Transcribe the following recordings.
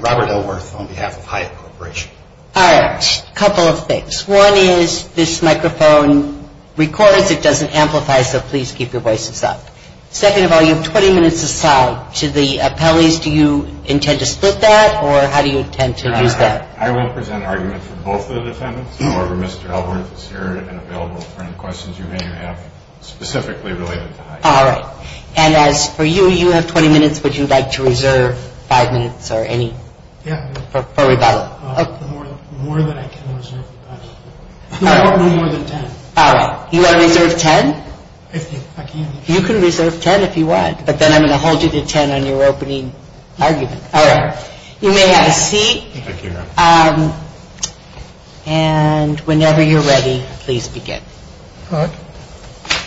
Robert Ellworth, on behalf of Hyatt Corp. Alright, a couple of things. One is this microphone records, it doesn't amplify, so please keep your voices up. Second of all, you have 20 minutes aside. To the appellees, do you intend to split that or how do you intend to use that? I will present an argument for both the defendants. However, Mr. Ellworth is here and available for any questions you may have specifically related to Hyatt. Alright. And as for you, you have 20 minutes. Would you like to reserve 5 minutes or any? Yeah. For rebuttal. More than I can reserve. No, no more than 10. Alright. You want to reserve 10? I can. You can reserve 10 if you want, but then I'm going to hold you to 10 on your opening argument. Alright. You may have a seat. Thank you, ma'am. And whenever you're ready, please begin. Alright.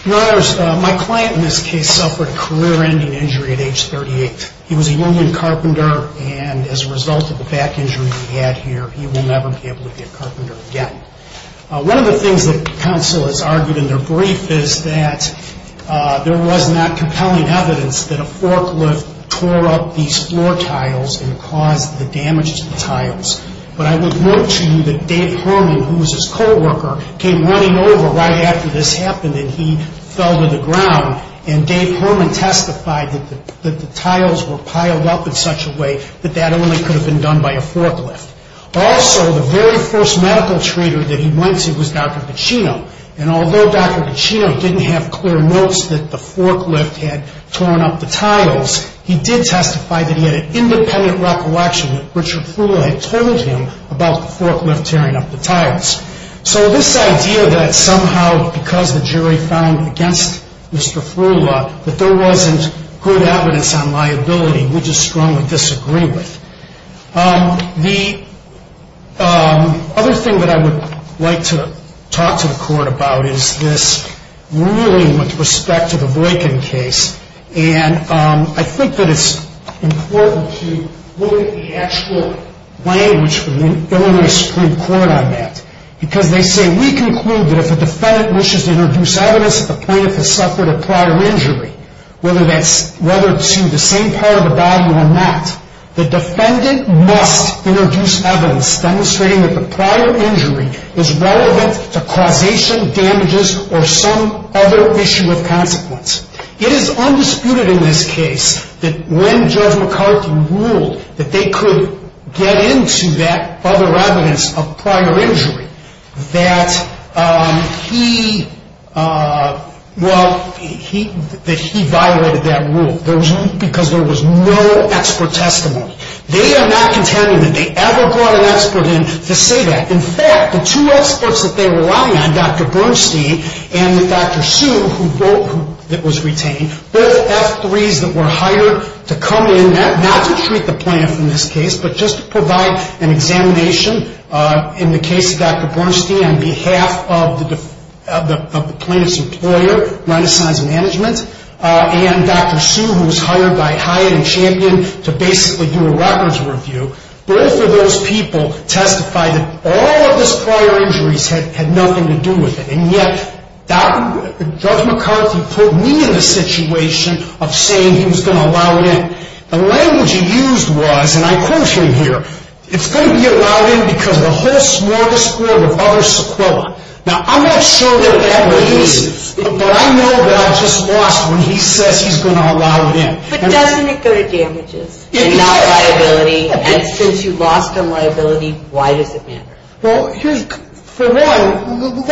Your Honors, my client in this case suffered a career-ending injury at age 38. He was a union carpenter and as a result of the back injury he had here, he will never be able to be a carpenter again. One of the things that counsel has argued in their brief is that there was not compelling evidence that a forklift tore up these floor tiles and caused the damage to the tiles. But I would note to you that Dave Herman, who was his co-worker, came running over right after this happened and he fell to the ground. And Dave Herman testified that the tiles were piled up in such a way that that only could have been done by a forklift. Also, the very first medical treater that he went to was Dr. Pacino. And although Dr. Pacino didn't have clear notes that the forklift had torn up the tiles, he did testify that he had an independent recollection that Richard Frula had told him about the forklift tearing up the tiles. So this idea that somehow because the jury found against Mr. Frula that there wasn't good evidence on liability, we just strongly disagree with. The other thing that I would like to talk to the court about is this ruling with respect to the Boykin case. And I think that it's important to look at the actual language from Illinois Supreme Court on that. Because they say, we conclude that if a defendant wishes to introduce evidence that the plaintiff has suffered a prior injury, whether to the same part of the body or not, the defendant must introduce evidence demonstrating that the prior injury is relevant to causation, damages, or some other issue of consequence. It is undisputed in this case that when Judge McCarthy ruled that they could get into that other evidence of prior injury, that he violated that rule because there was no expert testimony. They are not contending that they ever brought an expert in to say that. In fact, the two experts that they relied on, Dr. Bernstein and Dr. Sue, that was retained, both F3s that were hired to come in, not to treat the plaintiff in this case, but just to provide an examination in the case of Dr. Bernstein on behalf of the plaintiff's employer, Renaissance Management, and Dr. Sue, who was hired by Hyatt and Champion to basically do a records review, both of those people testified that all of his prior injuries had nothing to do with it. And yet, Judge McCarthy put me in the situation of saying he was going to allow it in. The language he used was, and I quote him here, it's going to be allowed in because of the whole smorgasbord of other sequelae. Now, I'm not sure that it ever is, but I know that I just lost when he says he's going to allow it in. But doesn't it go to damages and not liability? And since you lost on liability, why does it matter? Well, for one,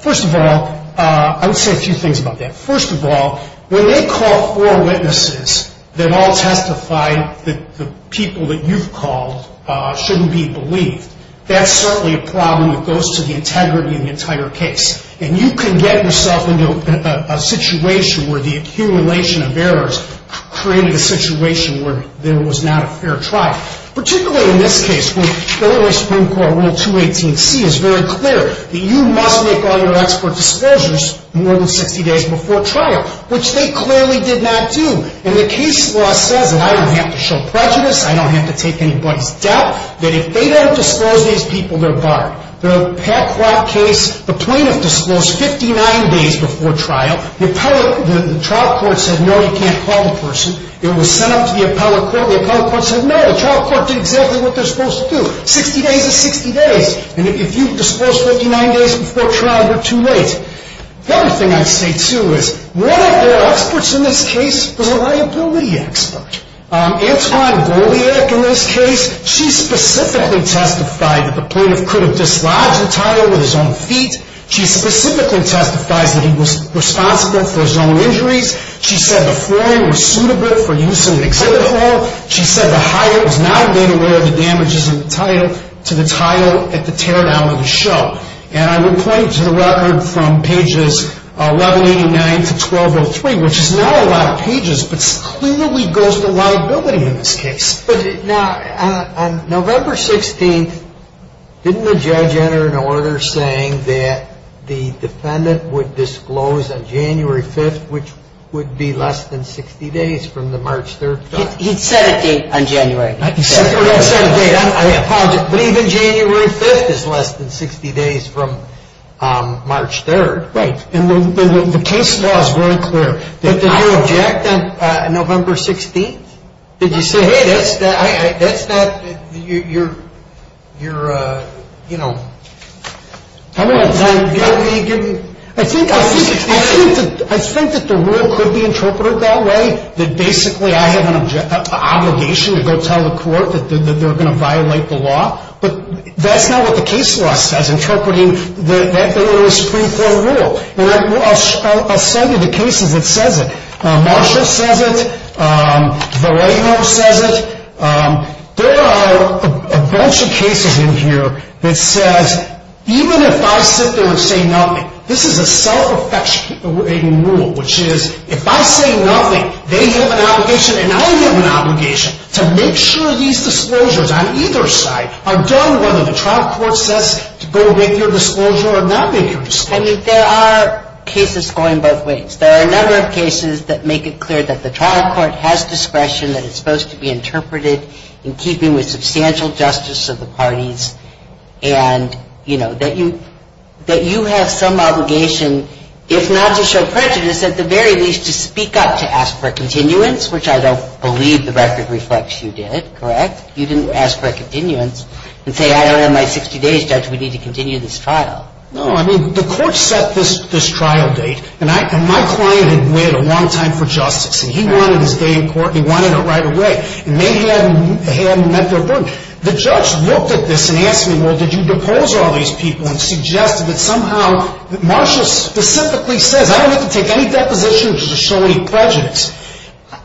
first of all, I would say a few things about that. First of all, when they call four witnesses that all testified that the people that you've called shouldn't be believed, that's certainly a problem that goes to the integrity of the entire case. And you can get yourself into a situation where the accumulation of errors created a situation where there was not a fair trial, particularly in this case, where Illinois Supreme Court Rule 218C is very clear that you must make all your expert disclosures more than 60 days before trial, which they clearly did not do. And the case law says that I don't have to show prejudice, I don't have to take anybody's doubt, that if they don't disclose these people, they're barred. The Petclock case, the plaintiff disclosed 59 days before trial. The trial court said, no, you can't call the person. It was sent up to the appellate court. The appellate court said, no, the trial court did exactly what they're supposed to do. 60 days is 60 days. And if you've disclosed 59 days before trial, you're too late. The other thing I'd say, too, is one of the experts in this case was a liability expert. Antwone Goldiak in this case, she specifically testified that the plaintiff could have dislodged the title with his own feet. She specifically testifies that he was responsible for his own injuries. She said the form was suitable for use in an exhibit hall. She said the hire was not made aware of the damages in the title to the title at the teardown of the show. And I would point you to the record from pages 1189 to 1203, which is not a lot of pages, but clearly goes to liability in this case. But now, on November 16th, didn't the judge enter an order saying that the defendant would disclose on January 5th, which would be less than 60 days from the March 3rd trial? He said a date on January. He said a date. I apologize. But even January 5th is less than 60 days from March 3rd. Right. And the case law is very clear. But did you object on November 16th? Did you say, hey, that's not your, you know. How many times? I think that the rule could be interpreted that way, that basically I have an obligation to go tell the court that they're going to violate the law. But that's not what the case law says, interpreting that it was a Supreme Court rule. And I'll send you the cases that says it. Marshall says it. Varejo says it. There are a bunch of cases in here that says even if I sit there and say nothing, this is a self-affectuating rule, which is if I say nothing, they have an obligation and I have an obligation to make sure these disclosures on either side are done whether the trial court says to go with your disclosure or not make your disclosure. I mean, there are cases going both ways. There are a number of cases that make it clear that the trial court has discretion, that it's supposed to be interpreted in keeping with substantial justice of the parties, and, you know, that you have some obligation, if not to show prejudice, at the very least to speak up to ask for a continuance, which I don't believe the record reflects you did, correct? You didn't ask for a continuance and say, I don't have my 60 days, Judge. We need to continue this trial. No, I mean, the court set this trial date, and my client had waited a long time for justice, and he wanted his day in court, and he wanted it right away. And they hadn't met their burden. The judge looked at this and asked me, well, did you depose all these people and suggested that somehow Marshall specifically says, I don't have to take any depositions to show any prejudice.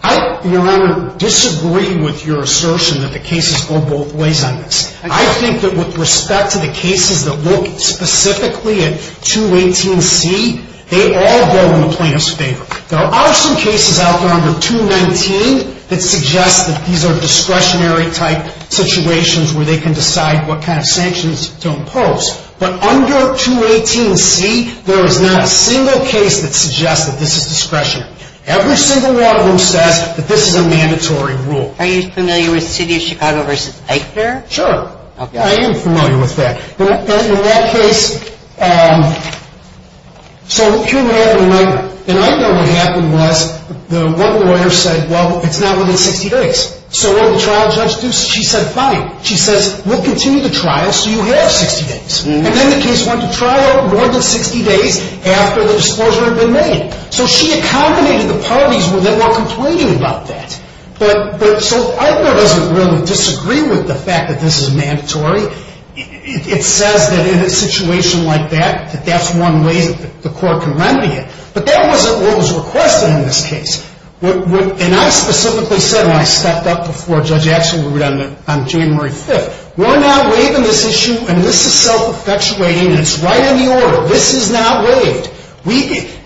I, Your Honor, disagree with your assertion that the cases go both ways on this. I think that with respect to the cases that look specifically at 218C, they all go in the plaintiff's favor. There are some cases out there under 219 that suggest that these are discretionary-type situations where they can decide what kind of sanctions to impose. But under 218C, there is not a single case that suggests that this is discretionary. Every single one of them says that this is a mandatory rule. Are you familiar with City of Chicago v. Eichner? Sure. I am familiar with that. In that case, so here's what happened. And I know what happened was the one lawyer said, well, it's not within 60 days. So what did the trial judge do? She said, fine. She says, we'll continue the trial so you have 60 days. And then the case went to trial more than 60 days after the disclosure had been made. So she accommodated the parties that were complaining about that. But so Eichner doesn't really disagree with the fact that this is mandatory. It says that in a situation like that, that that's one way that the court can remedy it. But that wasn't what was requested in this case. And I specifically said when I stepped up before Judge Axelrod on January 5th, we're not waiving this issue and this is self-perpetuating and it's right in the order. This is not waived.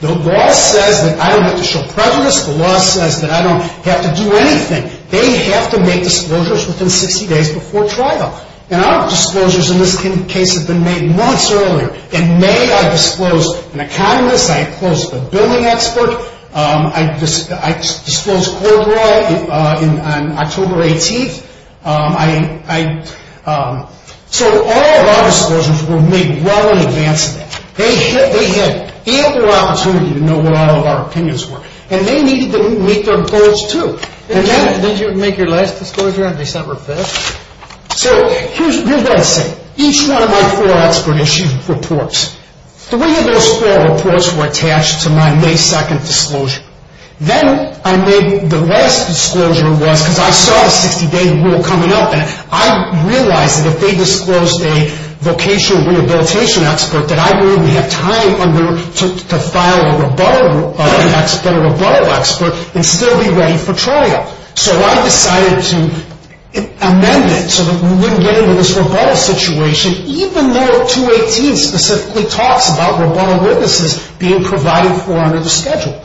The law says that I don't have to show prejudice. The law says that I don't have to do anything. They have to make disclosures within 60 days before trial. And our disclosures in this case have been made months earlier. In May, I disclosed an economist. I disclosed a billing expert. I disclosed Coldwell on October 18th. So all of our disclosures were made well in advance of that. They had ample opportunity to know what all of our opinions were. And they needed to meet their goals too. And then did you make your last disclosure on December 5th? So here's what I say. Each one of my four expert issued reports. Three of those four reports were attached to my May 2nd disclosure. Then I made the last disclosure was because I saw a 60-day rule coming up and I realized that if they disclosed a vocational rehabilitation expert, that I wouldn't have time to file a rebuttal expert and still be ready for trial. So I decided to amend it so that we wouldn't get into this rebuttal situation, even though 218 specifically talks about rebuttal witnesses being provided for under the schedule.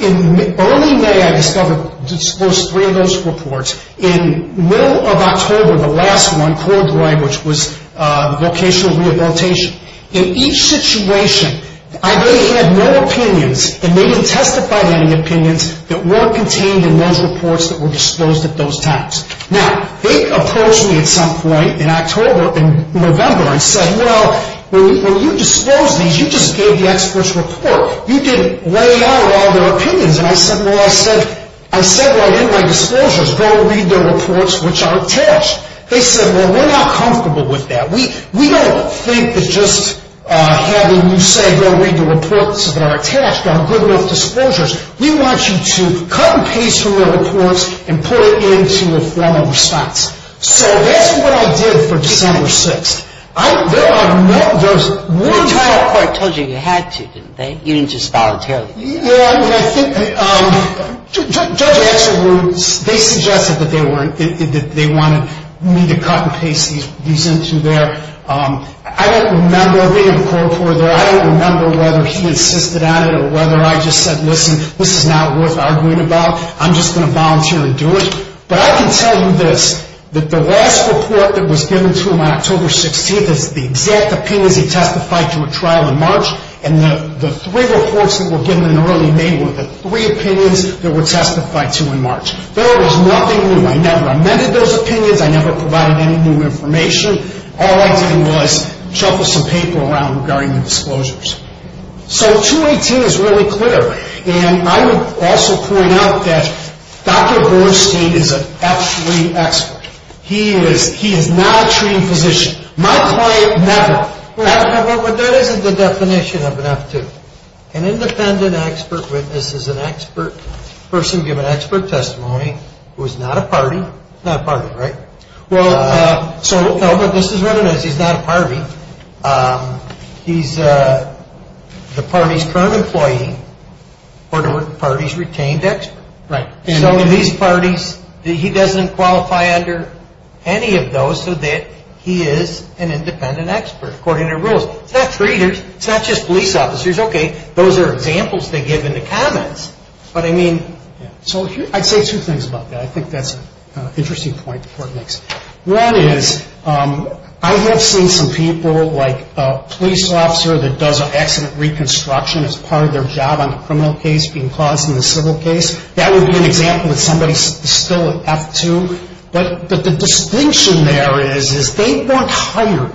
In early May, I disclosed three of those reports. In middle of October, the last one, Coldwell, which was vocational rehabilitation. In each situation, I had no opinions and they didn't testify to any opinions that weren't contained in those reports that were disclosed at those times. Now, they approached me at some point in October and November and said, well, when you disclosed these, you just gave the experts report. You didn't lay out all their opinions. And I said, well, I said what I did in my disclosures, go read the reports which are attached. They said, well, we're not comfortable with that. We don't think that just having you say go read the reports that are attached are good enough disclosures. We want you to cut and paste from the reports and put it into a formal response. So that's what I did for December 6th. There are no – there's one – The trial court told you you had to, didn't they? You didn't just voluntarily. Well, I think – Judge Axelrod, they suggested that they wanted me to cut and paste these into their – I don't remember reading the court report. I don't remember whether he insisted on it or whether I just said, listen, this is not worth arguing about. I'm just going to volunteer and do it. But I can tell you this, that the last report that was given to him on October 16th is the exact opinions he testified to at trial in March. And the three reports that were given in early May were the three opinions that were testified to in March. There was nothing new. I never amended those opinions. I never provided any new information. All I did was shuffle some paper around regarding the disclosures. So 218 is really clear. And I would also point out that Dr. Bornstein is an F3 expert. He is not a treating physician. My client never – Well, that isn't the definition of an F2. An independent expert witness is an expert person given expert testimony who is not a party. Not a party, right? Well, so – No, but this is what it is. He's not a party. He's the party's current employee or the party's retained expert. Right. So these parties – he doesn't qualify under any of those so that he is an independent expert, according to their rules. It's not treaters. It's not just police officers. Okay, those are examples they give in the comments. But I mean – So I'd say two things about that. I think that's an interesting point the Court makes. One is I have seen some people like a police officer that does an accident reconstruction as part of their job on a criminal case being caused in a civil case. That would be an example of somebody still an F2. But the distinction there is they weren't hired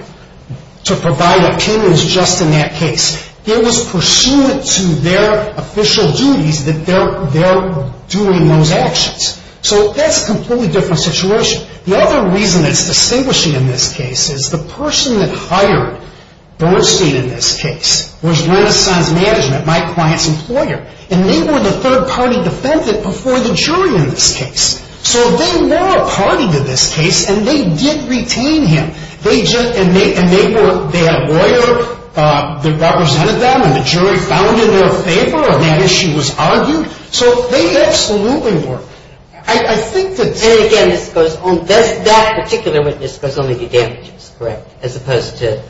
to provide opinions just in that case. It was pursuant to their official duties that they're doing those actions. So that's a completely different situation. The other reason that's distinguishing in this case is the person that hired Bernstein in this case was Renaissance Management, my client's employer. And they were the third-party defendant before the jury in this case. So they were a party to this case, and they did retain him. And they had a lawyer that represented them, and the jury found in their favor, and that issue was argued. So they absolutely were. I think that's – And again, this goes on – that particular witness goes on to get damages, correct, as opposed to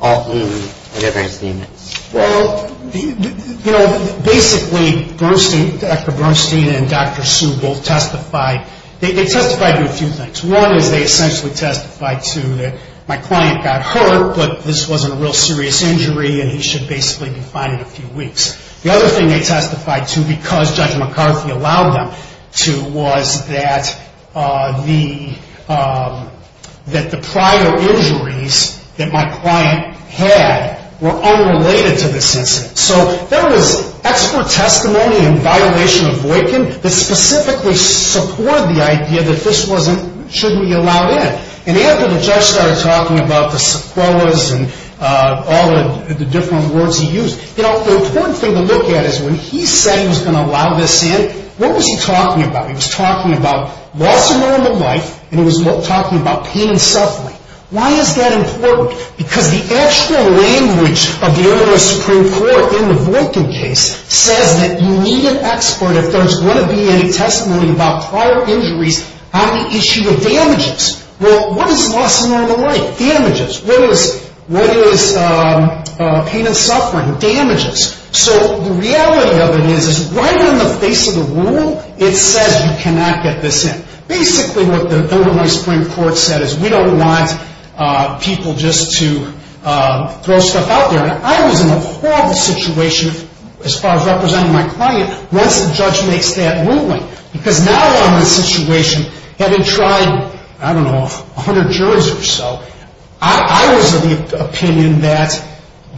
all the other defendants. Well, you know, basically Bernstein, Dr. Bernstein and Dr. Sue both testified. They testified to a few things. One is they essentially testified to that my client got hurt, but this wasn't a real serious injury and he should basically be fine in a few weeks. The other thing they testified to because Judge McCarthy allowed them to was that the prior injuries that my client had were unrelated to this incident. So there was expert testimony in violation of Voightkin that specifically supported the idea that this wasn't – shouldn't be allowed in. And after the judge started talking about the sequelas and all the different words he used, you know, the important thing to look at is when he said he was going to allow this in, what was he talking about? He was talking about loss of normal life and he was talking about pain and suffering. Why is that important? Because the actual language of the earlier Supreme Court in the Voightkin case says that you need an expert if there's going to be any testimony about prior injuries on the issue of damages. Well, what is loss of normal life? Damages. What is pain and suffering? Damages. So the reality of it is right in the face of the rule, it says you cannot get this in. Basically what the earlier Supreme Court said is we don't want people just to throw stuff out there. And I was in a horrible situation as far as representing my client once the judge makes that ruling because now I'm in a situation having tried, I don't know, 100 jurors or so, I was of the opinion that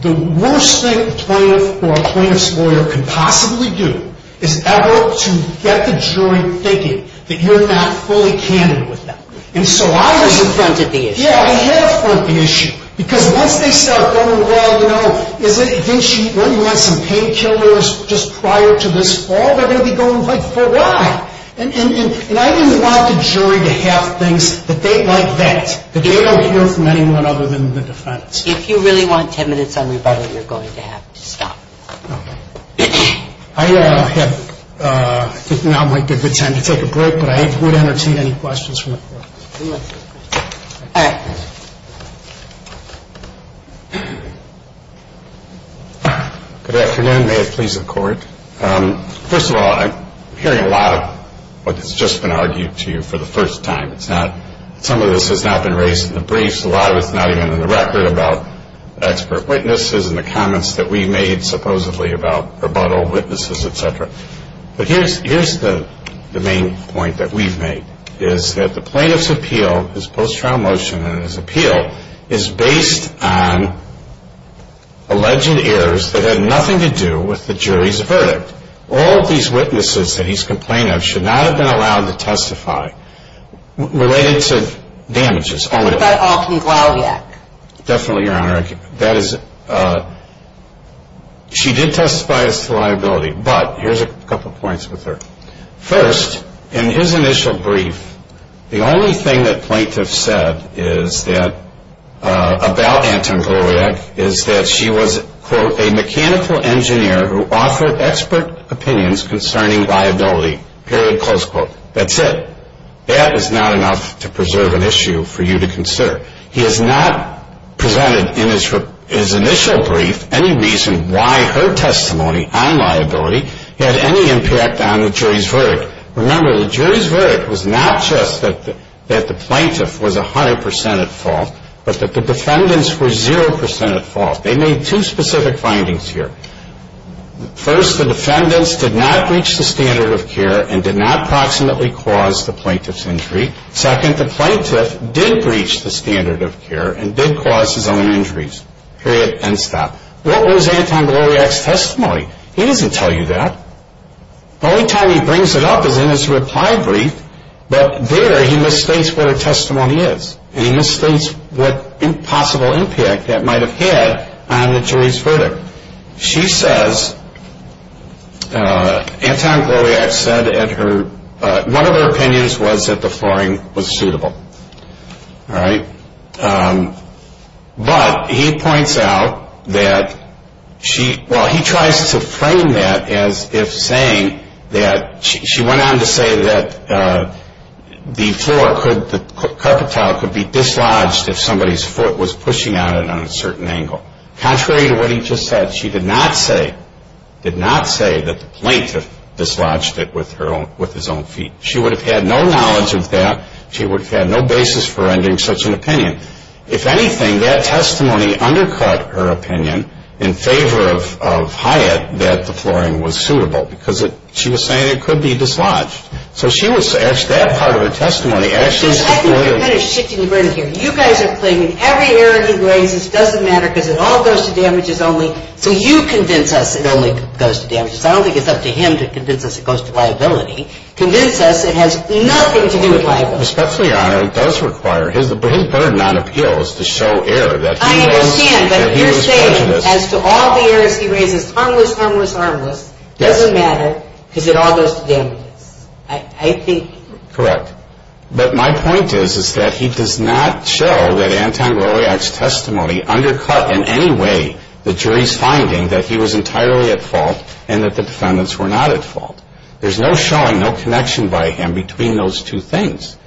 the worst thing a plaintiff or a plaintiff's lawyer could possibly do is ever to get the jury thinking that you're not fully candid with them. So you confronted the issue. Yeah, I confronted the issue because once they start going, well, you know, didn't she run you on some painkillers just prior to this fall? They're going to be going, like, for what? And I didn't want the jury to have things like that, that they don't hear from anyone other than the defense. If you really want 10 minutes on rebuttal, you're going to have to stop. Okay. I think now might be a good time to take a break, but I would entertain any questions from the court. All right. Good afternoon. May it please the Court. First of all, I'm hearing a lot of what has just been argued to you for the first time. Some of this has not been raised in the briefs. A lot of it's not even in the record about expert witnesses and the comments that we made supposedly about rebuttal, witnesses, et cetera. But here's the main point that we've made, is that the plaintiff's appeal, his post-trial motion and his appeal, is based on alleged errors that had nothing to do with the jury's verdict. All of these witnesses that he's complained of should not have been allowed to testify related to damages. What about Alton Glauwek? Definitely, Your Honor. She did testify as to liability, but here's a couple points with her. First, in his initial brief, the only thing that plaintiffs said about Alton Glauwek is that she was, quote, a mechanical engineer who offered expert opinions concerning liability, period, close quote. That's it. That is not enough to preserve an issue for you to consider. He has not presented in his initial brief any reason why her testimony on liability had any impact on the jury's verdict. Remember, the jury's verdict was not just that the plaintiff was 100% at fault, but that the defendants were 0% at fault. They made two specific findings here. First, the defendants did not breach the standard of care and did not proximately cause the plaintiff's injury. Second, the plaintiff did breach the standard of care and did cause his own injuries, period, end stop. What was Anton Glauwek's testimony? He doesn't tell you that. The only time he brings it up is in his reply brief, but there he misstates what her testimony is, and he misstates what possible impact that might have had on the jury's verdict. She says Anton Glauwek said one of her opinions was that the flooring was suitable. All right. But he points out that she, well, he tries to frame that as if saying that she went on to say that the floor could, the carpet tile could be dislodged if somebody's foot was pushing on it on a certain angle. Contrary to what he just said, she did not say, did not say that the plaintiff dislodged it with his own feet. She would have had no knowledge of that. She would have had no basis for rendering such an opinion. If anything, that testimony undercut her opinion in favor of Hyatt that the flooring was suitable because she was saying it could be dislodged. So she was, that part of her testimony actually is supportive. I think you're kind of shifting the brain here. You guys are claiming every error he raises doesn't matter because it all goes to damages only, so you convince us it only goes to damages. I don't think it's up to him to convince us it goes to liability. You convince us it has nothing to do with liability. Especially, Your Honor, it does require, his burden on appeal is to show error. I understand, but you're saying as to all the errors he raises, harmless, harmless, harmless, doesn't matter because it all goes to damages. I think. Correct. But my point is that he does not show that Anton Goliak's testimony undercut in any way the jury's finding that he was entirely at fault and that the defendants were not at fault. There's no showing, no connection by him between those two things.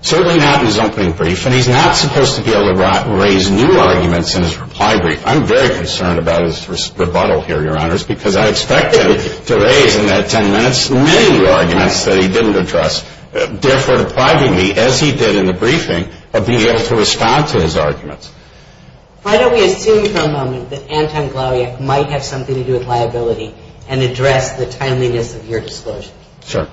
Certainly not in his opening brief, and he's not supposed to be able to raise new arguments in his reply brief. I'm very concerned about his rebuttal here, Your Honors, because I expect him to raise in that ten minutes many arguments that he didn't address, therefore depriving me, as he did in the briefing, of being able to respond to his arguments. Why don't we assume for a moment that Anton Goliak might have something to do with liability and address the timeliness of your disclosure? Sure.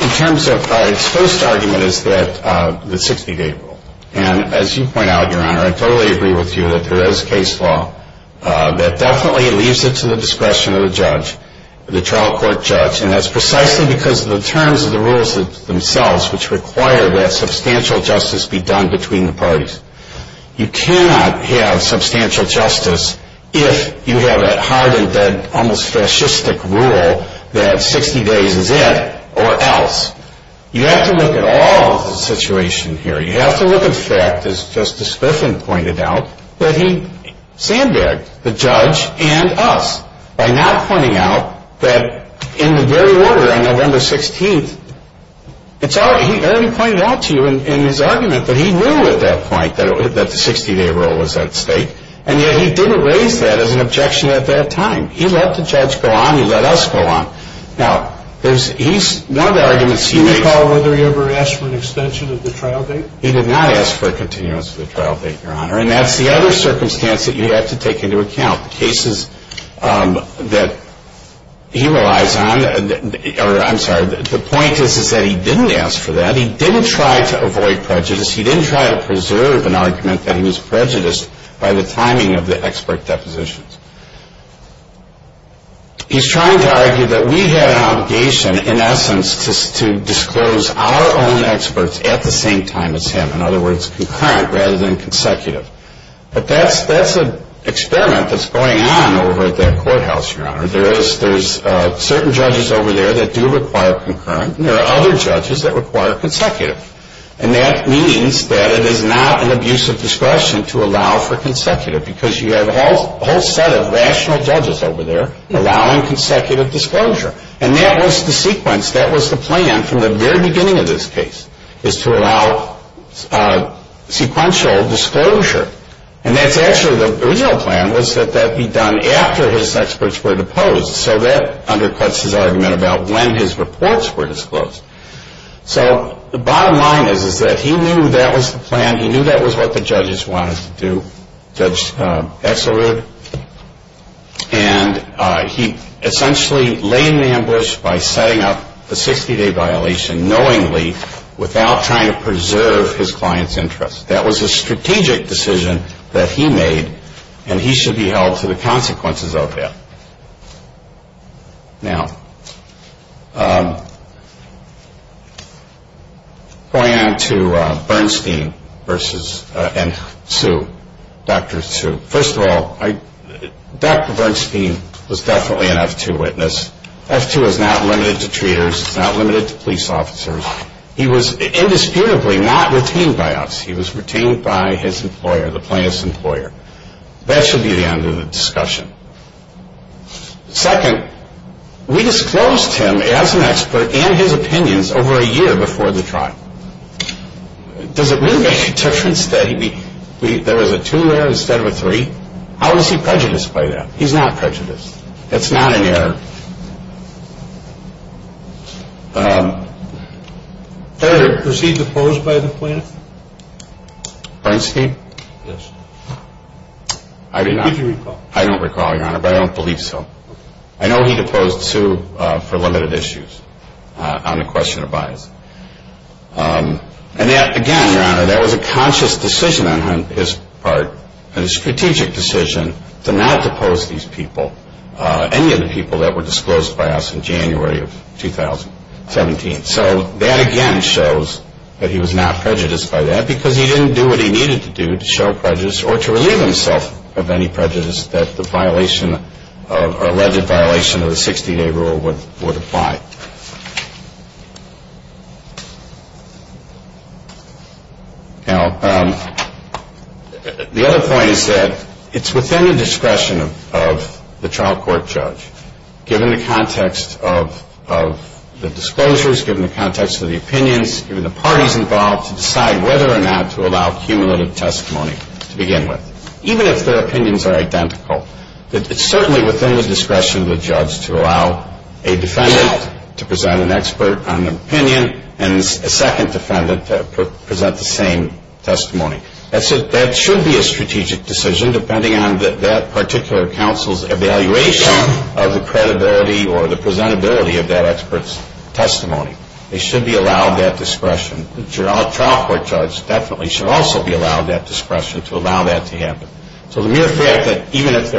In terms of his first argument is that the 60-day rule, and as you point out, Your Honor, I totally agree with you that there is case law that definitely leaves it to the discretion of the judge, the trial court judge, and that's precisely because of the terms of the rules themselves which require that substantial justice be done between the parties. You cannot have substantial justice if you have a hardened, almost fascistic rule that 60 days is it or else. You have to look at all of the situation here. You have to look at the fact, as Justice Griffin pointed out, that he sandbagged the judge and us by not pointing out that in the very order on November 16th, it's already pointed out to you in his argument that he knew at that point that the 60-day rule was at stake, and yet he didn't raise that as an objection at that time. He let the judge go on. He let us go on. Now, he's one of the arguments he makes. Do you recall whether he ever asked for an extension of the trial date? He did not ask for a continuance of the trial date, Your Honor, and that's the other circumstance that you have to take into account. The cases that he relies on, or I'm sorry, the point is that he didn't ask for that. He didn't try to avoid prejudice. He didn't try to preserve an argument that he was prejudiced by the timing of the expert depositions. He's trying to argue that we had an obligation, in essence, to disclose our own experts at the same time as him, in other words, concurrent rather than consecutive. But that's an experiment that's going on over at that courthouse, Your Honor. There's certain judges over there that do require concurrent, and there are other judges that require consecutive. And that means that it is not an abuse of discretion to allow for consecutive because you have a whole set of rational judges over there allowing consecutive disclosure. And that was the sequence. And that's actually the original plan was that that be done after his experts were deposed. So that undercuts his argument about when his reports were disclosed. So the bottom line is that he knew that was the plan. He knew that was what the judges wanted to do. Judge Exler did. And he essentially laid an ambush by setting up a 60-day violation knowingly without trying to preserve his client's interest. That was a strategic decision that he made, and he should be held to the consequences of it. Now, going on to Bernstein versus Sue, Dr. Sue. First of all, Dr. Bernstein was definitely an F2 witness. F2 is not limited to treaters. It's not limited to police officers. He was indisputably not retained by us. He was retained by his employer, the plaintiff's employer. That should be the end of the discussion. Second, we disclosed him as an expert and his opinions over a year before the trial. Does it really make a difference that there was a two there instead of a three? How is he prejudiced by that? That's not an error. Third. Was he deposed by the plaintiff? Bernstein? Yes. I did not. Did you recall? I don't recall, Your Honor, but I don't believe so. I know he deposed Sue for limited issues on the question of bias. And again, Your Honor, that was a conscious decision on his part, and a strategic decision to not depose these people, any of the people that were disclosed by us in January of 2017. So that, again, shows that he was not prejudiced by that because he didn't do what he needed to do to show prejudice or to relieve himself of any prejudice that the violation of or alleged violation of the 60-day rule would apply. Now, the other point is that it's within the discretion of the trial court judge, given the context of the disclosures, given the context of the opinions, given the parties involved to decide whether or not to allow cumulative testimony to begin with. Even if their opinions are identical, it's certainly within the discretion of the judge to allow a defendant to present an expert on an opinion and a second defendant to present the same testimony. That should be a strategic decision, depending on that particular counsel's evaluation of the credibility or the presentability of that expert's testimony. They should be allowed that discretion. The trial court judge definitely should also be allowed that discretion to allow that to happen. So the mere fact that even if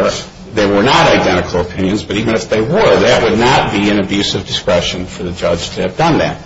they were not identical opinions, but even if they were, that would not be an abuse of discretion for the judge to have done that.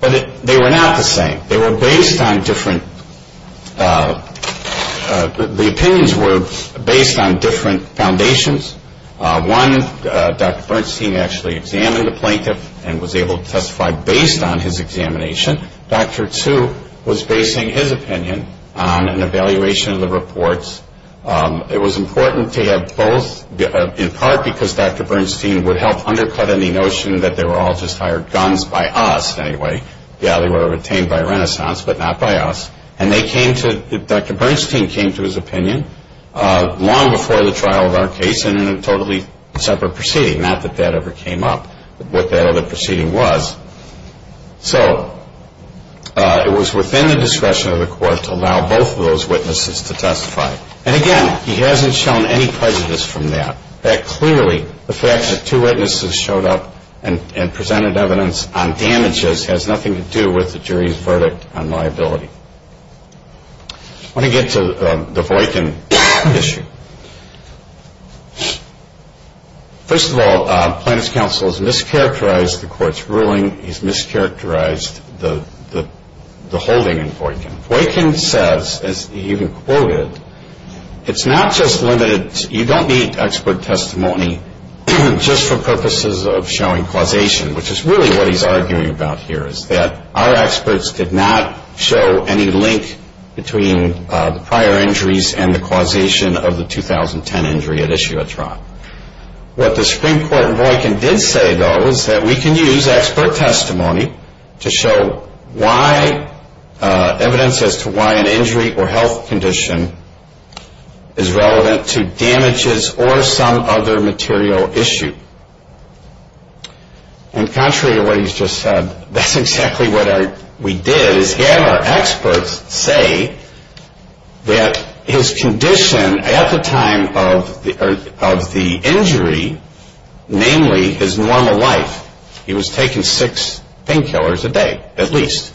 But they were not the same. They were based on different – the opinions were based on different foundations. One, Dr. Bernstein actually examined the plaintiff and was able to testify based on his examination. Dr. Tsu was basing his opinion on an evaluation of the reports. It was important to have both, in part because Dr. Bernstein would help undercut any notion that they were all just hired guns by us anyway. Yeah, they were retained by Renaissance, but not by us. And they came to – Dr. Bernstein came to his opinion long before the trial of our case and in a totally separate proceeding, not that that ever came up, what that other proceeding was. So it was within the discretion of the court to allow both of those witnesses to testify. And again, he hasn't shown any prejudice from that. That clearly, the fact that two witnesses showed up and presented evidence on damages has nothing to do with the jury's verdict on liability. I want to get to the Voight and Bishop. Thank you. First of all, plaintiff's counsel has mischaracterized the court's ruling. He's mischaracterized the holding in Voight and Bishop. Voight and Bishop says, as he even quoted, it's not just limited – you don't need expert testimony just for purposes of showing causation, which is really what he's arguing about here, is that our experts did not show any link between the prior injuries and the causation of the 2010 injury at issue at trial. What the Supreme Court in Voight and Bishop did say, though, is that we can use expert testimony to show why evidence as to why an injury or health condition is relevant to damages or some other material issue. And contrary to what he's just said, that's exactly what we did, is have our experts say that his condition at the time of the injury, namely his normal life, he was taking six painkillers a day, at least,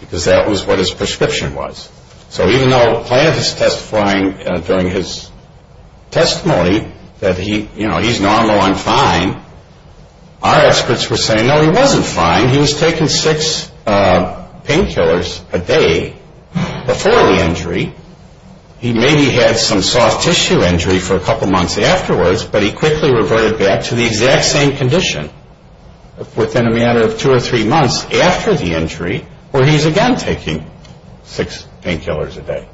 because that was what his prescription was. So even though plaintiff is testifying during his testimony that he's normal and fine, our experts were saying, no, he wasn't fine. He was taking six painkillers a day before the injury. He maybe had some soft tissue injury for a couple months afterwards, but he quickly reverted back to the exact same condition within a matter of two or three months after the injury where he's again taking six painkillers a day.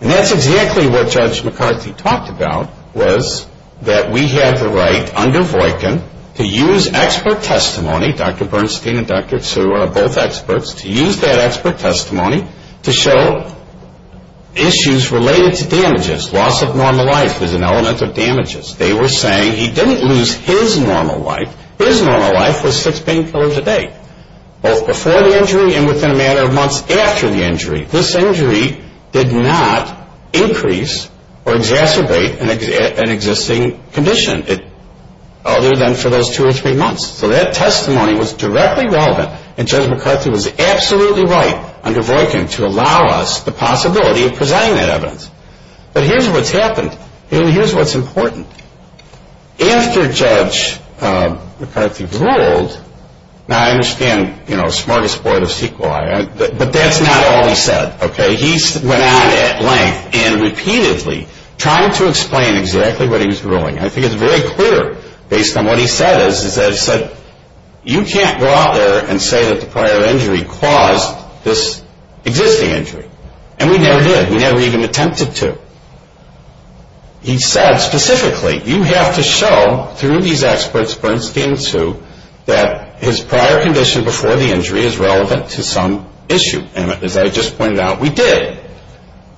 And that's exactly what Judge McCarthy talked about, was that we have the right under Voight and Bishop to use expert testimony, Dr. Bernstein and Dr. Tsu are both experts, to use that expert testimony to show issues related to damages. Loss of normal life is an element of damages. They were saying he didn't lose his normal life. His normal life was six painkillers a day, both before the injury and within a matter of months after the injury. This injury did not increase or exacerbate an existing condition, other than for those two or three months. So that testimony was directly relevant, and Judge McCarthy was absolutely right under Voight and Bishop to allow us the possibility of presenting that evidence. But here's what's happened, and here's what's important. After Judge McCarthy ruled, now I understand, you know, smorgasbord of sequel, but that's not all he said, okay? He went on at length and repeatedly trying to explain exactly what he was ruling. I think it's very clear based on what he said is that he said, you can't go out there and say that the prior injury caused this existing injury. And we never did. We never even attempted to. He said specifically, you have to show through these experts, Bernstein and Hsu, that his prior condition before the injury is relevant to some issue. And as I just pointed out, we did.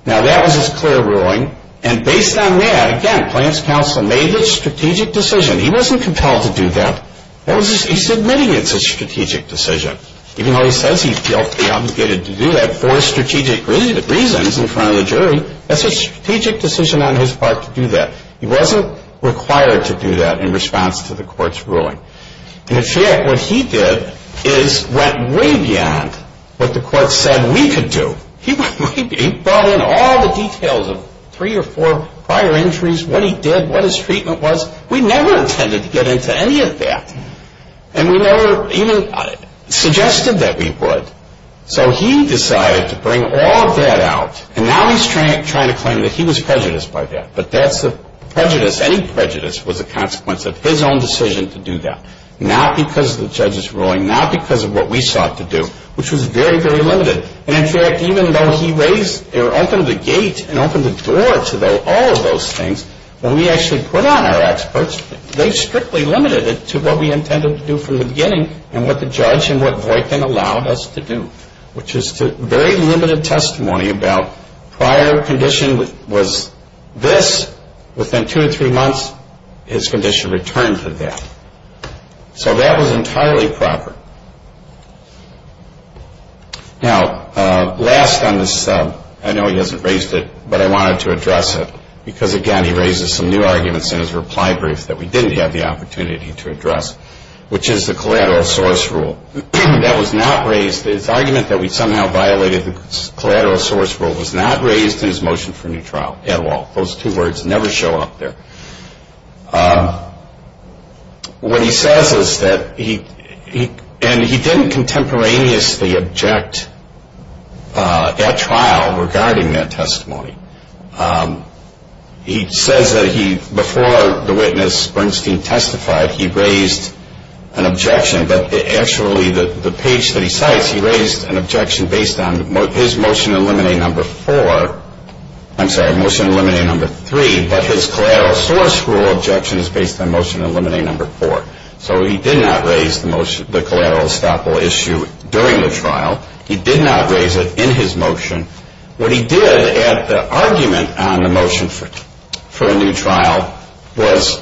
Now that was his clear ruling, and based on that, again, Plaintiff's counsel made the strategic decision. He wasn't compelled to do that. He's admitting it's a strategic decision. Even though he says he felt he was obligated to do that for strategic reasons in front of the jury, that's a strategic decision on his part to do that. He wasn't required to do that in response to the court's ruling. In effect, what he did is went way beyond what the court said we could do. He brought in all the details of three or four prior injuries, what he did, what his treatment was. We never intended to get into any of that. And we never even suggested that we would. So he decided to bring all of that out, and now he's trying to claim that he was prejudiced by that. But that's a prejudice. Any prejudice was a consequence of his own decision to do that, not because of the judge's ruling, not because of what we sought to do, which was very, very limited. And, in fact, even though he raised or opened the gate and opened the door to all of those things, when we actually put on our experts, they strictly limited it to what we intended to do from the beginning and what the judge and what Voight then allowed us to do, which is to very limited testimony about prior condition was this. Within two to three months, his condition returned to that. So that was entirely proper. Now, last on this, I know he hasn't raised it, but I wanted to address it, because, again, he raises some new arguments in his reply brief that we didn't have the opportunity to address, which is the collateral source rule. That was not raised. His argument that we somehow violated the collateral source rule was not raised in his motion for new trial at all. Those two words never show up there. What he says is that he didn't contemporaneously object at trial regarding that testimony. He says that he, before the witness Bernstein testified, he raised an objection, but actually the page that he cites, he raised an objection based on his motion in limine number four. I'm sorry, motion in limine number three, but his collateral source rule objection is based on motion in limine number four. So he did not raise the collateral estoppel issue during the trial. He did not raise it in his motion. What he did at the argument on the motion for a new trial was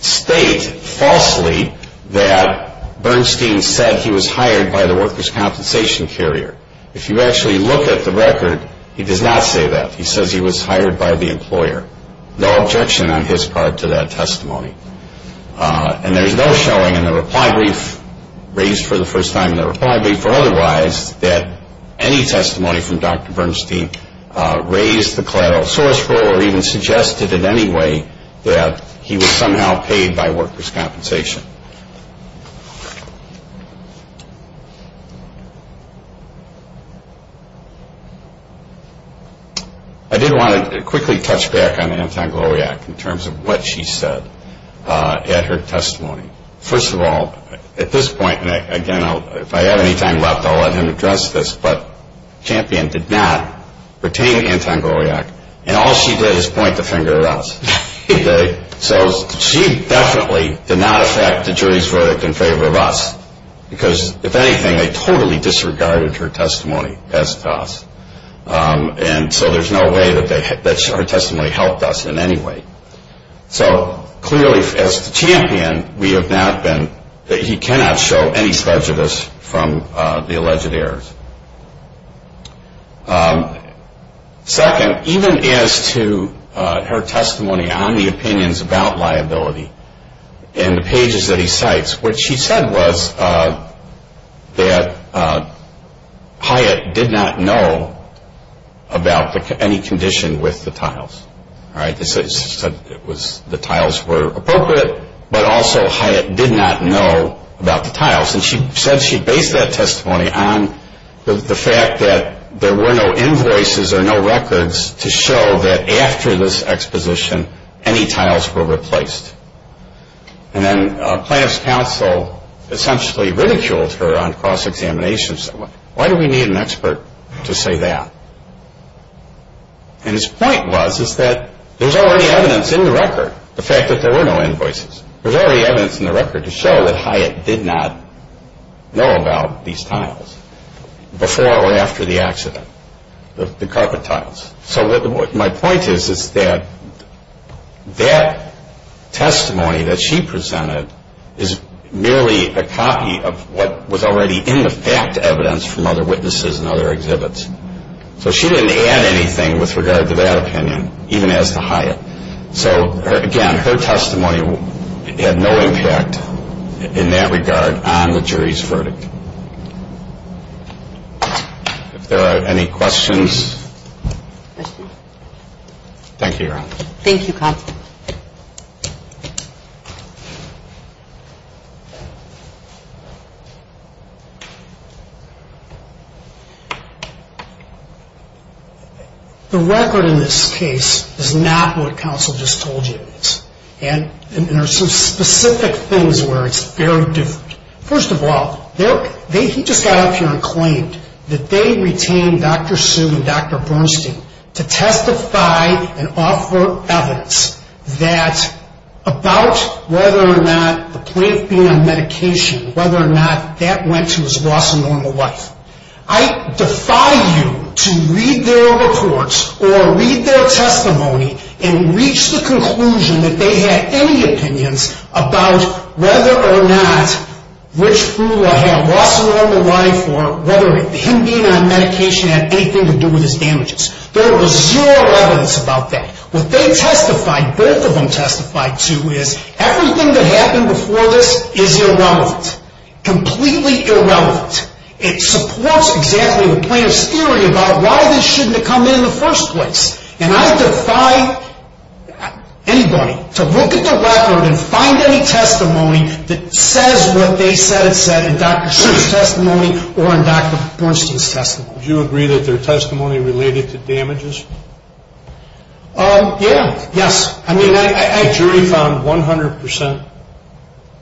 state falsely that Bernstein said he was hired by the workers' compensation carrier. If you actually look at the record, he does not say that. He says he was hired by the employer. No objection on his part to that testimony. And there's no showing in the reply brief, raised for the first time in the reply brief or otherwise, that any testimony from Dr. Bernstein raised the collateral source rule or even suggested in any way that he was somehow paid by workers' compensation. I did want to quickly touch back on Anton Goliak in terms of what she said at her testimony. First of all, at this point, again, if I have any time left, I'll let him address this, but Champion did not retain Anton Goliak, and all she did was point the finger at us. So she definitely did not affect the jury's verdict in favor of us, because if anything, they totally disregarded her testimony as to us. And so there's no way that her testimony helped us in any way. So clearly, as to Champion, he cannot show any prejudice from the alleged errors. Second, even as to her testimony on the opinions about liability and the pages that he cites, what she said was that Hyatt did not know about any condition with the tiles. She said the tiles were appropriate, but also Hyatt did not know about the tiles. And she said she based that testimony on the fact that there were no invoices or no records to show that after this exposition, any tiles were replaced. And then plaintiff's counsel essentially ridiculed her on cross-examination and said, there's already evidence in the record, the fact that there were no invoices. There's already evidence in the record to show that Hyatt did not know about these tiles before or after the accident, the carpet tiles. So my point is that that testimony that she presented is merely a copy of what was already in the fact evidence from other witnesses and other exhibits. So she didn't add anything with regard to that opinion, even as to Hyatt. So again, her testimony had no impact in that regard on the jury's verdict. If there are any questions. Thank you, Your Honor. Thank you, counsel. The record in this case is not what counsel just told you. And there are some specific things where it's very different. First of all, he just got up here and claimed that they retained Dr. Su and Dr. Bernstein to testify and offer evidence that about whether or not the plaintiff being on medication, whether or not that went to his loss of normal life. I defy you to read their reports or read their testimony and reach the conclusion that they had any opinions about whether or not Rich Frula had lost a normal life or whether him being on medication had anything to do with his damages. There was zero evidence about that. What they testified, both of them testified to, is everything that happened before this is irrelevant. Completely irrelevant. It supports exactly the plaintiff's theory about why this shouldn't have come in in the first place. And I defy anybody to look at the record and find any testimony that says what they said it said in Dr. Su's testimony or in Dr. Bernstein's testimony. Do you agree that their testimony related to damages? Yeah. Yes. I mean, the jury found 100%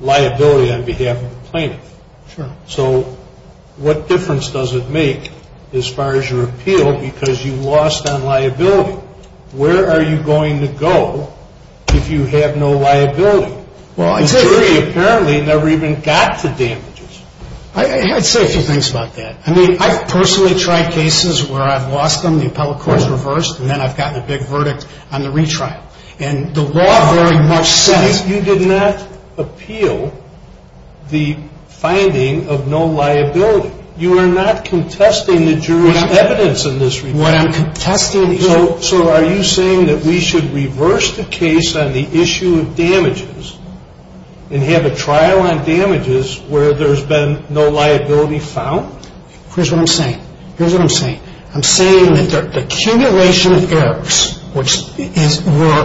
liability on behalf of the plaintiff. Sure. So what difference does it make as far as your appeal because you lost on liability? Where are you going to go if you have no liability? The jury apparently never even got to damages. I'd say a few things about that. I mean, I've personally tried cases where I've lost them, the appellate court's reversed, and then I've gotten a big verdict on the retrial. And the law very much says- You did not appeal the finding of no liability. You are not contesting the jury's evidence in this regard. What I'm contesting is- and have a trial on damages where there's been no liability found? Here's what I'm saying. Here's what I'm saying. I'm saying that the accumulation of errors, which were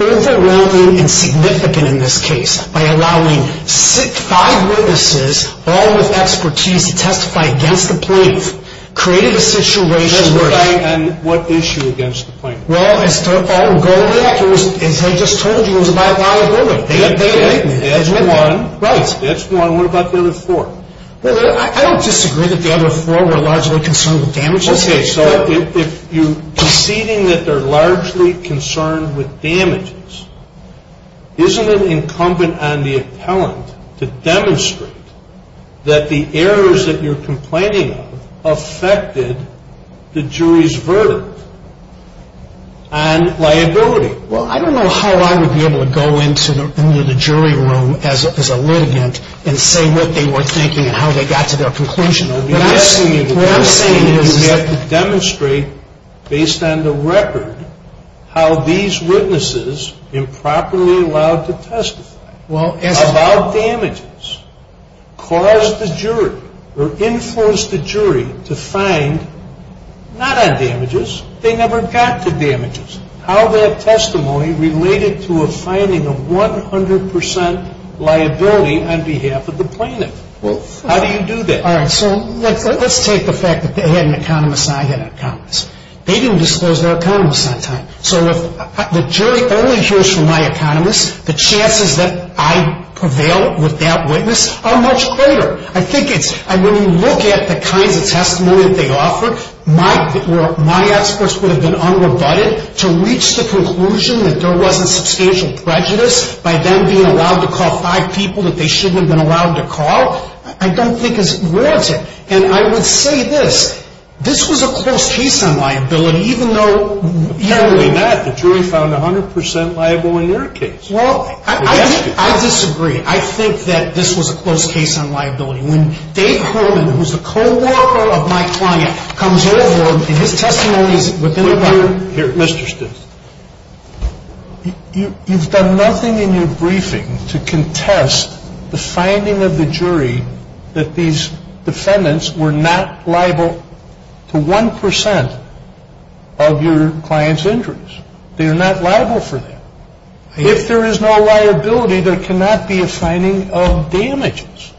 overwhelming and significant in this case, by allowing five witnesses, all with expertise, to testify against the plaintiff, created a situation where- And what issue against the plaintiff? Well, as I just told you, it was about liability. That's one. That's one. What about the other four? I don't disagree that the other four were largely concerned with damages. Okay, so if you're conceding that they're largely concerned with damages, isn't it incumbent on the appellant to demonstrate that the errors that you're complaining of affected the jury's verdict on liability? Well, I don't know how I would be able to go into the jury room as a litigant and say what they were thinking and how they got to their conclusion. What I'm saying is you have to demonstrate, based on the record, how these witnesses improperly allowed to testify about damages caused the jury or influenced the jury to find, not on damages, they never got to damages, how that testimony related to a finding of 100% liability on behalf of the plaintiff. How do you do that? All right, so let's take the fact that they had an economist and I had an economist. They didn't disclose their economist on time. So if the jury only hears from my economist, the chances that I prevail with that witness are much greater. I think it's- And when you look at the kinds of testimony that they offered, my experts would have been unrebutted to reach the conclusion that there wasn't substantial prejudice by them being allowed to call five people that they shouldn't have been allowed to call, I don't think is warranted. And I would say this, this was a close case on liability even though- Apparently not. The jury found 100% liable in your case. I think that this was a close case on liability. When Dave Holden, who is the co-worker of my client, comes over and his testimony is within the- Mr. Stitz. You've done nothing in your briefing to contest the finding of the jury that these defendants were not liable to 1% of your client's injuries. They are not liable for that. If there is no liability, there cannot be a finding of damages.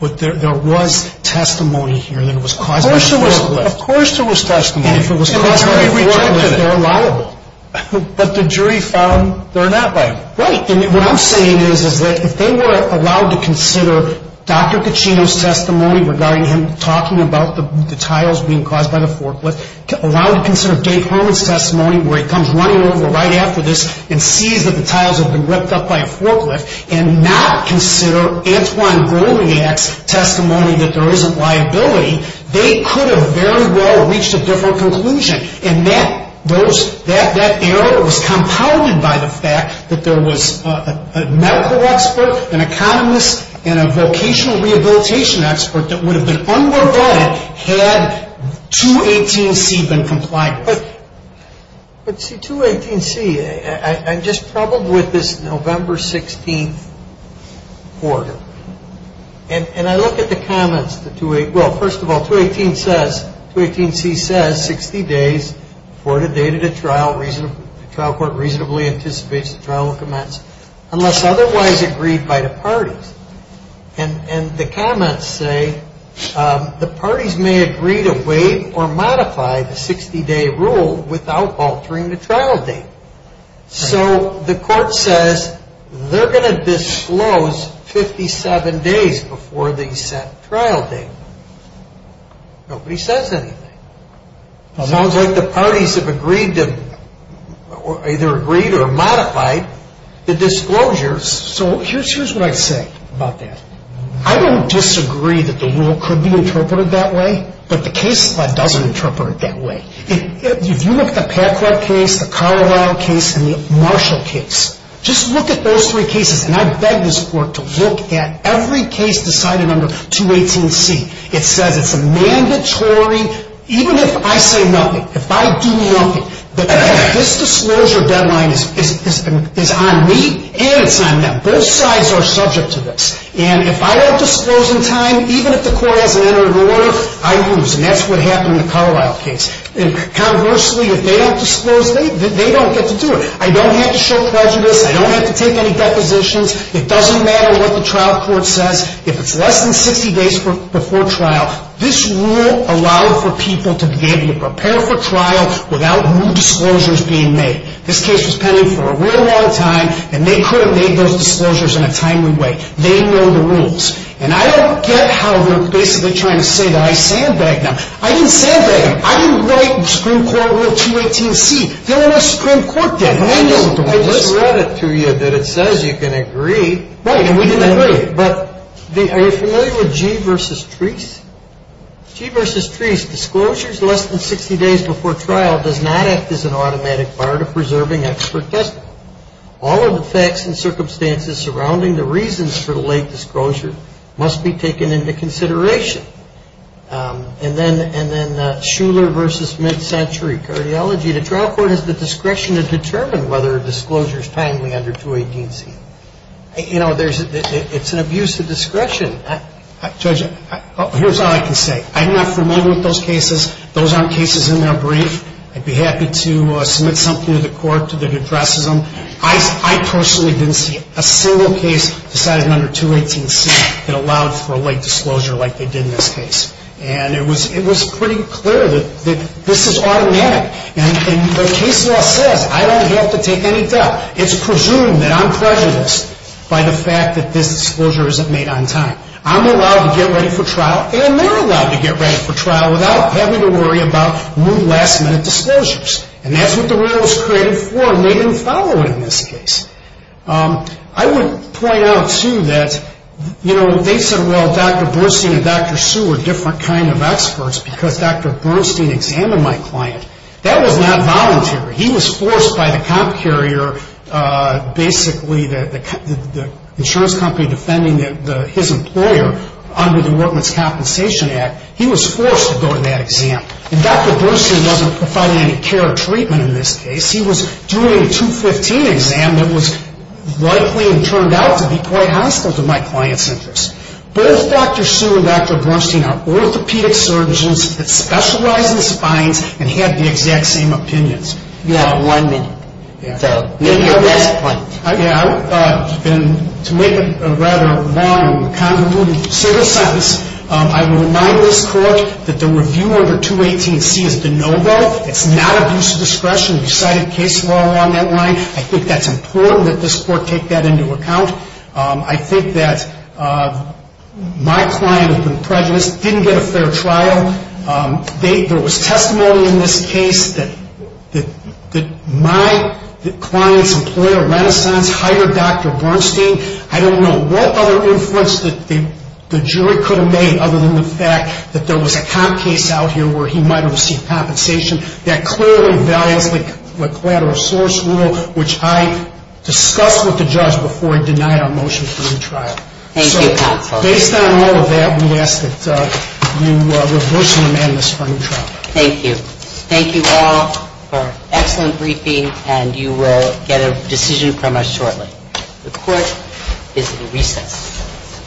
But there was testimony here that it was caused by a forklift. Of course there was testimony. And if it was caused by a forklift, they're liable. But the jury found they're not liable. Right, and what I'm saying is that if they were allowed to consider Dr. Caccino's testimony regarding him talking about the tiles being caused by the forklift, allowed to consider Dave Holden's testimony where he comes running over right after this and sees that the tiles have been ripped up by a forklift, and not consider Antoine Goliak's testimony that there isn't liability, they could have very well reached a different conclusion. And that error was compounded by the fact that there was a medical expert, an economist, and a vocational rehabilitation expert that would have been unrebutted had 218C been complied with. But see, 218C, I'm just troubled with this November 16th order. And I look at the comments. Well, first of all, 218C says 60 days for the date of the trial. The trial court reasonably anticipates the trial will commence unless otherwise agreed by the parties. And the comments say the parties may agree to wait or modify the 60-day rule without altering the trial date. So the court says they're going to disclose 57 days before the set trial date. Nobody says anything. It sounds like the parties have agreed to either agreed or modified the disclosures. So here's what I say about that. I don't disagree that the rule could be interpreted that way, but the case doesn't interpret it that way. If you look at the Packard case, the Carlyle case, and the Marshall case, just look at those three cases, and I beg this court to look at every case decided under 218C. It says it's a mandatory, even if I say nothing, if I do nothing, that this disclosure deadline is on me and it's on them. Both sides are subject to this. And if I don't disclose in time, even if the court hasn't entered an order, I lose. And that's what happened in the Carlyle case. And conversely, if they don't disclose, they don't get to do it. I don't have to show prejudice. I don't have to take any depositions. It doesn't matter what the trial court says. If it's less than 60 days before trial, this rule allowed for people to be able to prepare for trial without new disclosures being made. This case was pending for a real long time, and they could have made those disclosures in a timely way. They know the rules. And I don't get how they're basically trying to say that I sandbagged them. I didn't sandbag them. I didn't write Supreme Court Rule 218C. They're on a Supreme Court deadline. I just read it to you that it says you can agree. Right, and we didn't agree. But are you familiar with Gee versus Treese? Gee versus Treese, disclosures less than 60 days before trial does not act as an automatic bar to preserving expert testimony. All of the facts and circumstances surrounding the reasons for the late disclosure must be taken into consideration. And then Shuler versus mid-century, cardiology, the trial court has the discretion to determine whether a disclosure is timely under 218C. You know, it's an abuse of discretion. Judge, here's all I can say. I'm not familiar with those cases. Those aren't cases in their brief. I'd be happy to submit something to the court that addresses them. I personally didn't see a single case decided under 218C that allowed for a late disclosure like they did in this case. And it was pretty clear that this is automatic. And the case law says I don't have to take any doubt. It's presumed that I'm prejudiced by the fact that this disclosure isn't made on time. I'm allowed to get ready for trial, and they're allowed to get ready for trial without having to worry about rude last-minute disclosures. And that's what the rule was created for, made them follow it in this case. I would point out, too, that, you know, they said, well, Dr. Bernstein and Dr. Sue were different kind of experts because Dr. Bernstein examined my client. That was not voluntary. He was forced by the comp carrier, basically the insurance company defending his employer under the Workman's Compensation Act. He was forced to go to that exam. And Dr. Bernstein wasn't providing any care or treatment in this case. He was doing a 215 exam that was likely and turned out to be quite hostile to my client's interests. Both Dr. Sue and Dr. Bernstein are orthopedic surgeons that specialize in spines and had the exact same opinions. You have one minute. So make your best point. Yeah. And to make a rather long and convoluted civil sentence, I would remind this Court that the review order 218C has been no-go. It's not abuse of discretion. We've cited case law along that line. I think that's important that this Court take that into account. I think that my client had been prejudiced, didn't get a fair trial. There was testimony in this case that my client's employer, Renaissance, hired Dr. Bernstein. I don't know what other inference the jury could have made other than the fact that there was a comp case out here where he might have received compensation. That clearly violates the collateral source rule, which I discussed with the judge before he denied our motion for the trial. Thank you, counsel. Based on all of that, we ask that you reverse the amendment for the trial. Thank you. Thank you all for an excellent briefing, and you will get a decision from us shortly. The Court is in recess.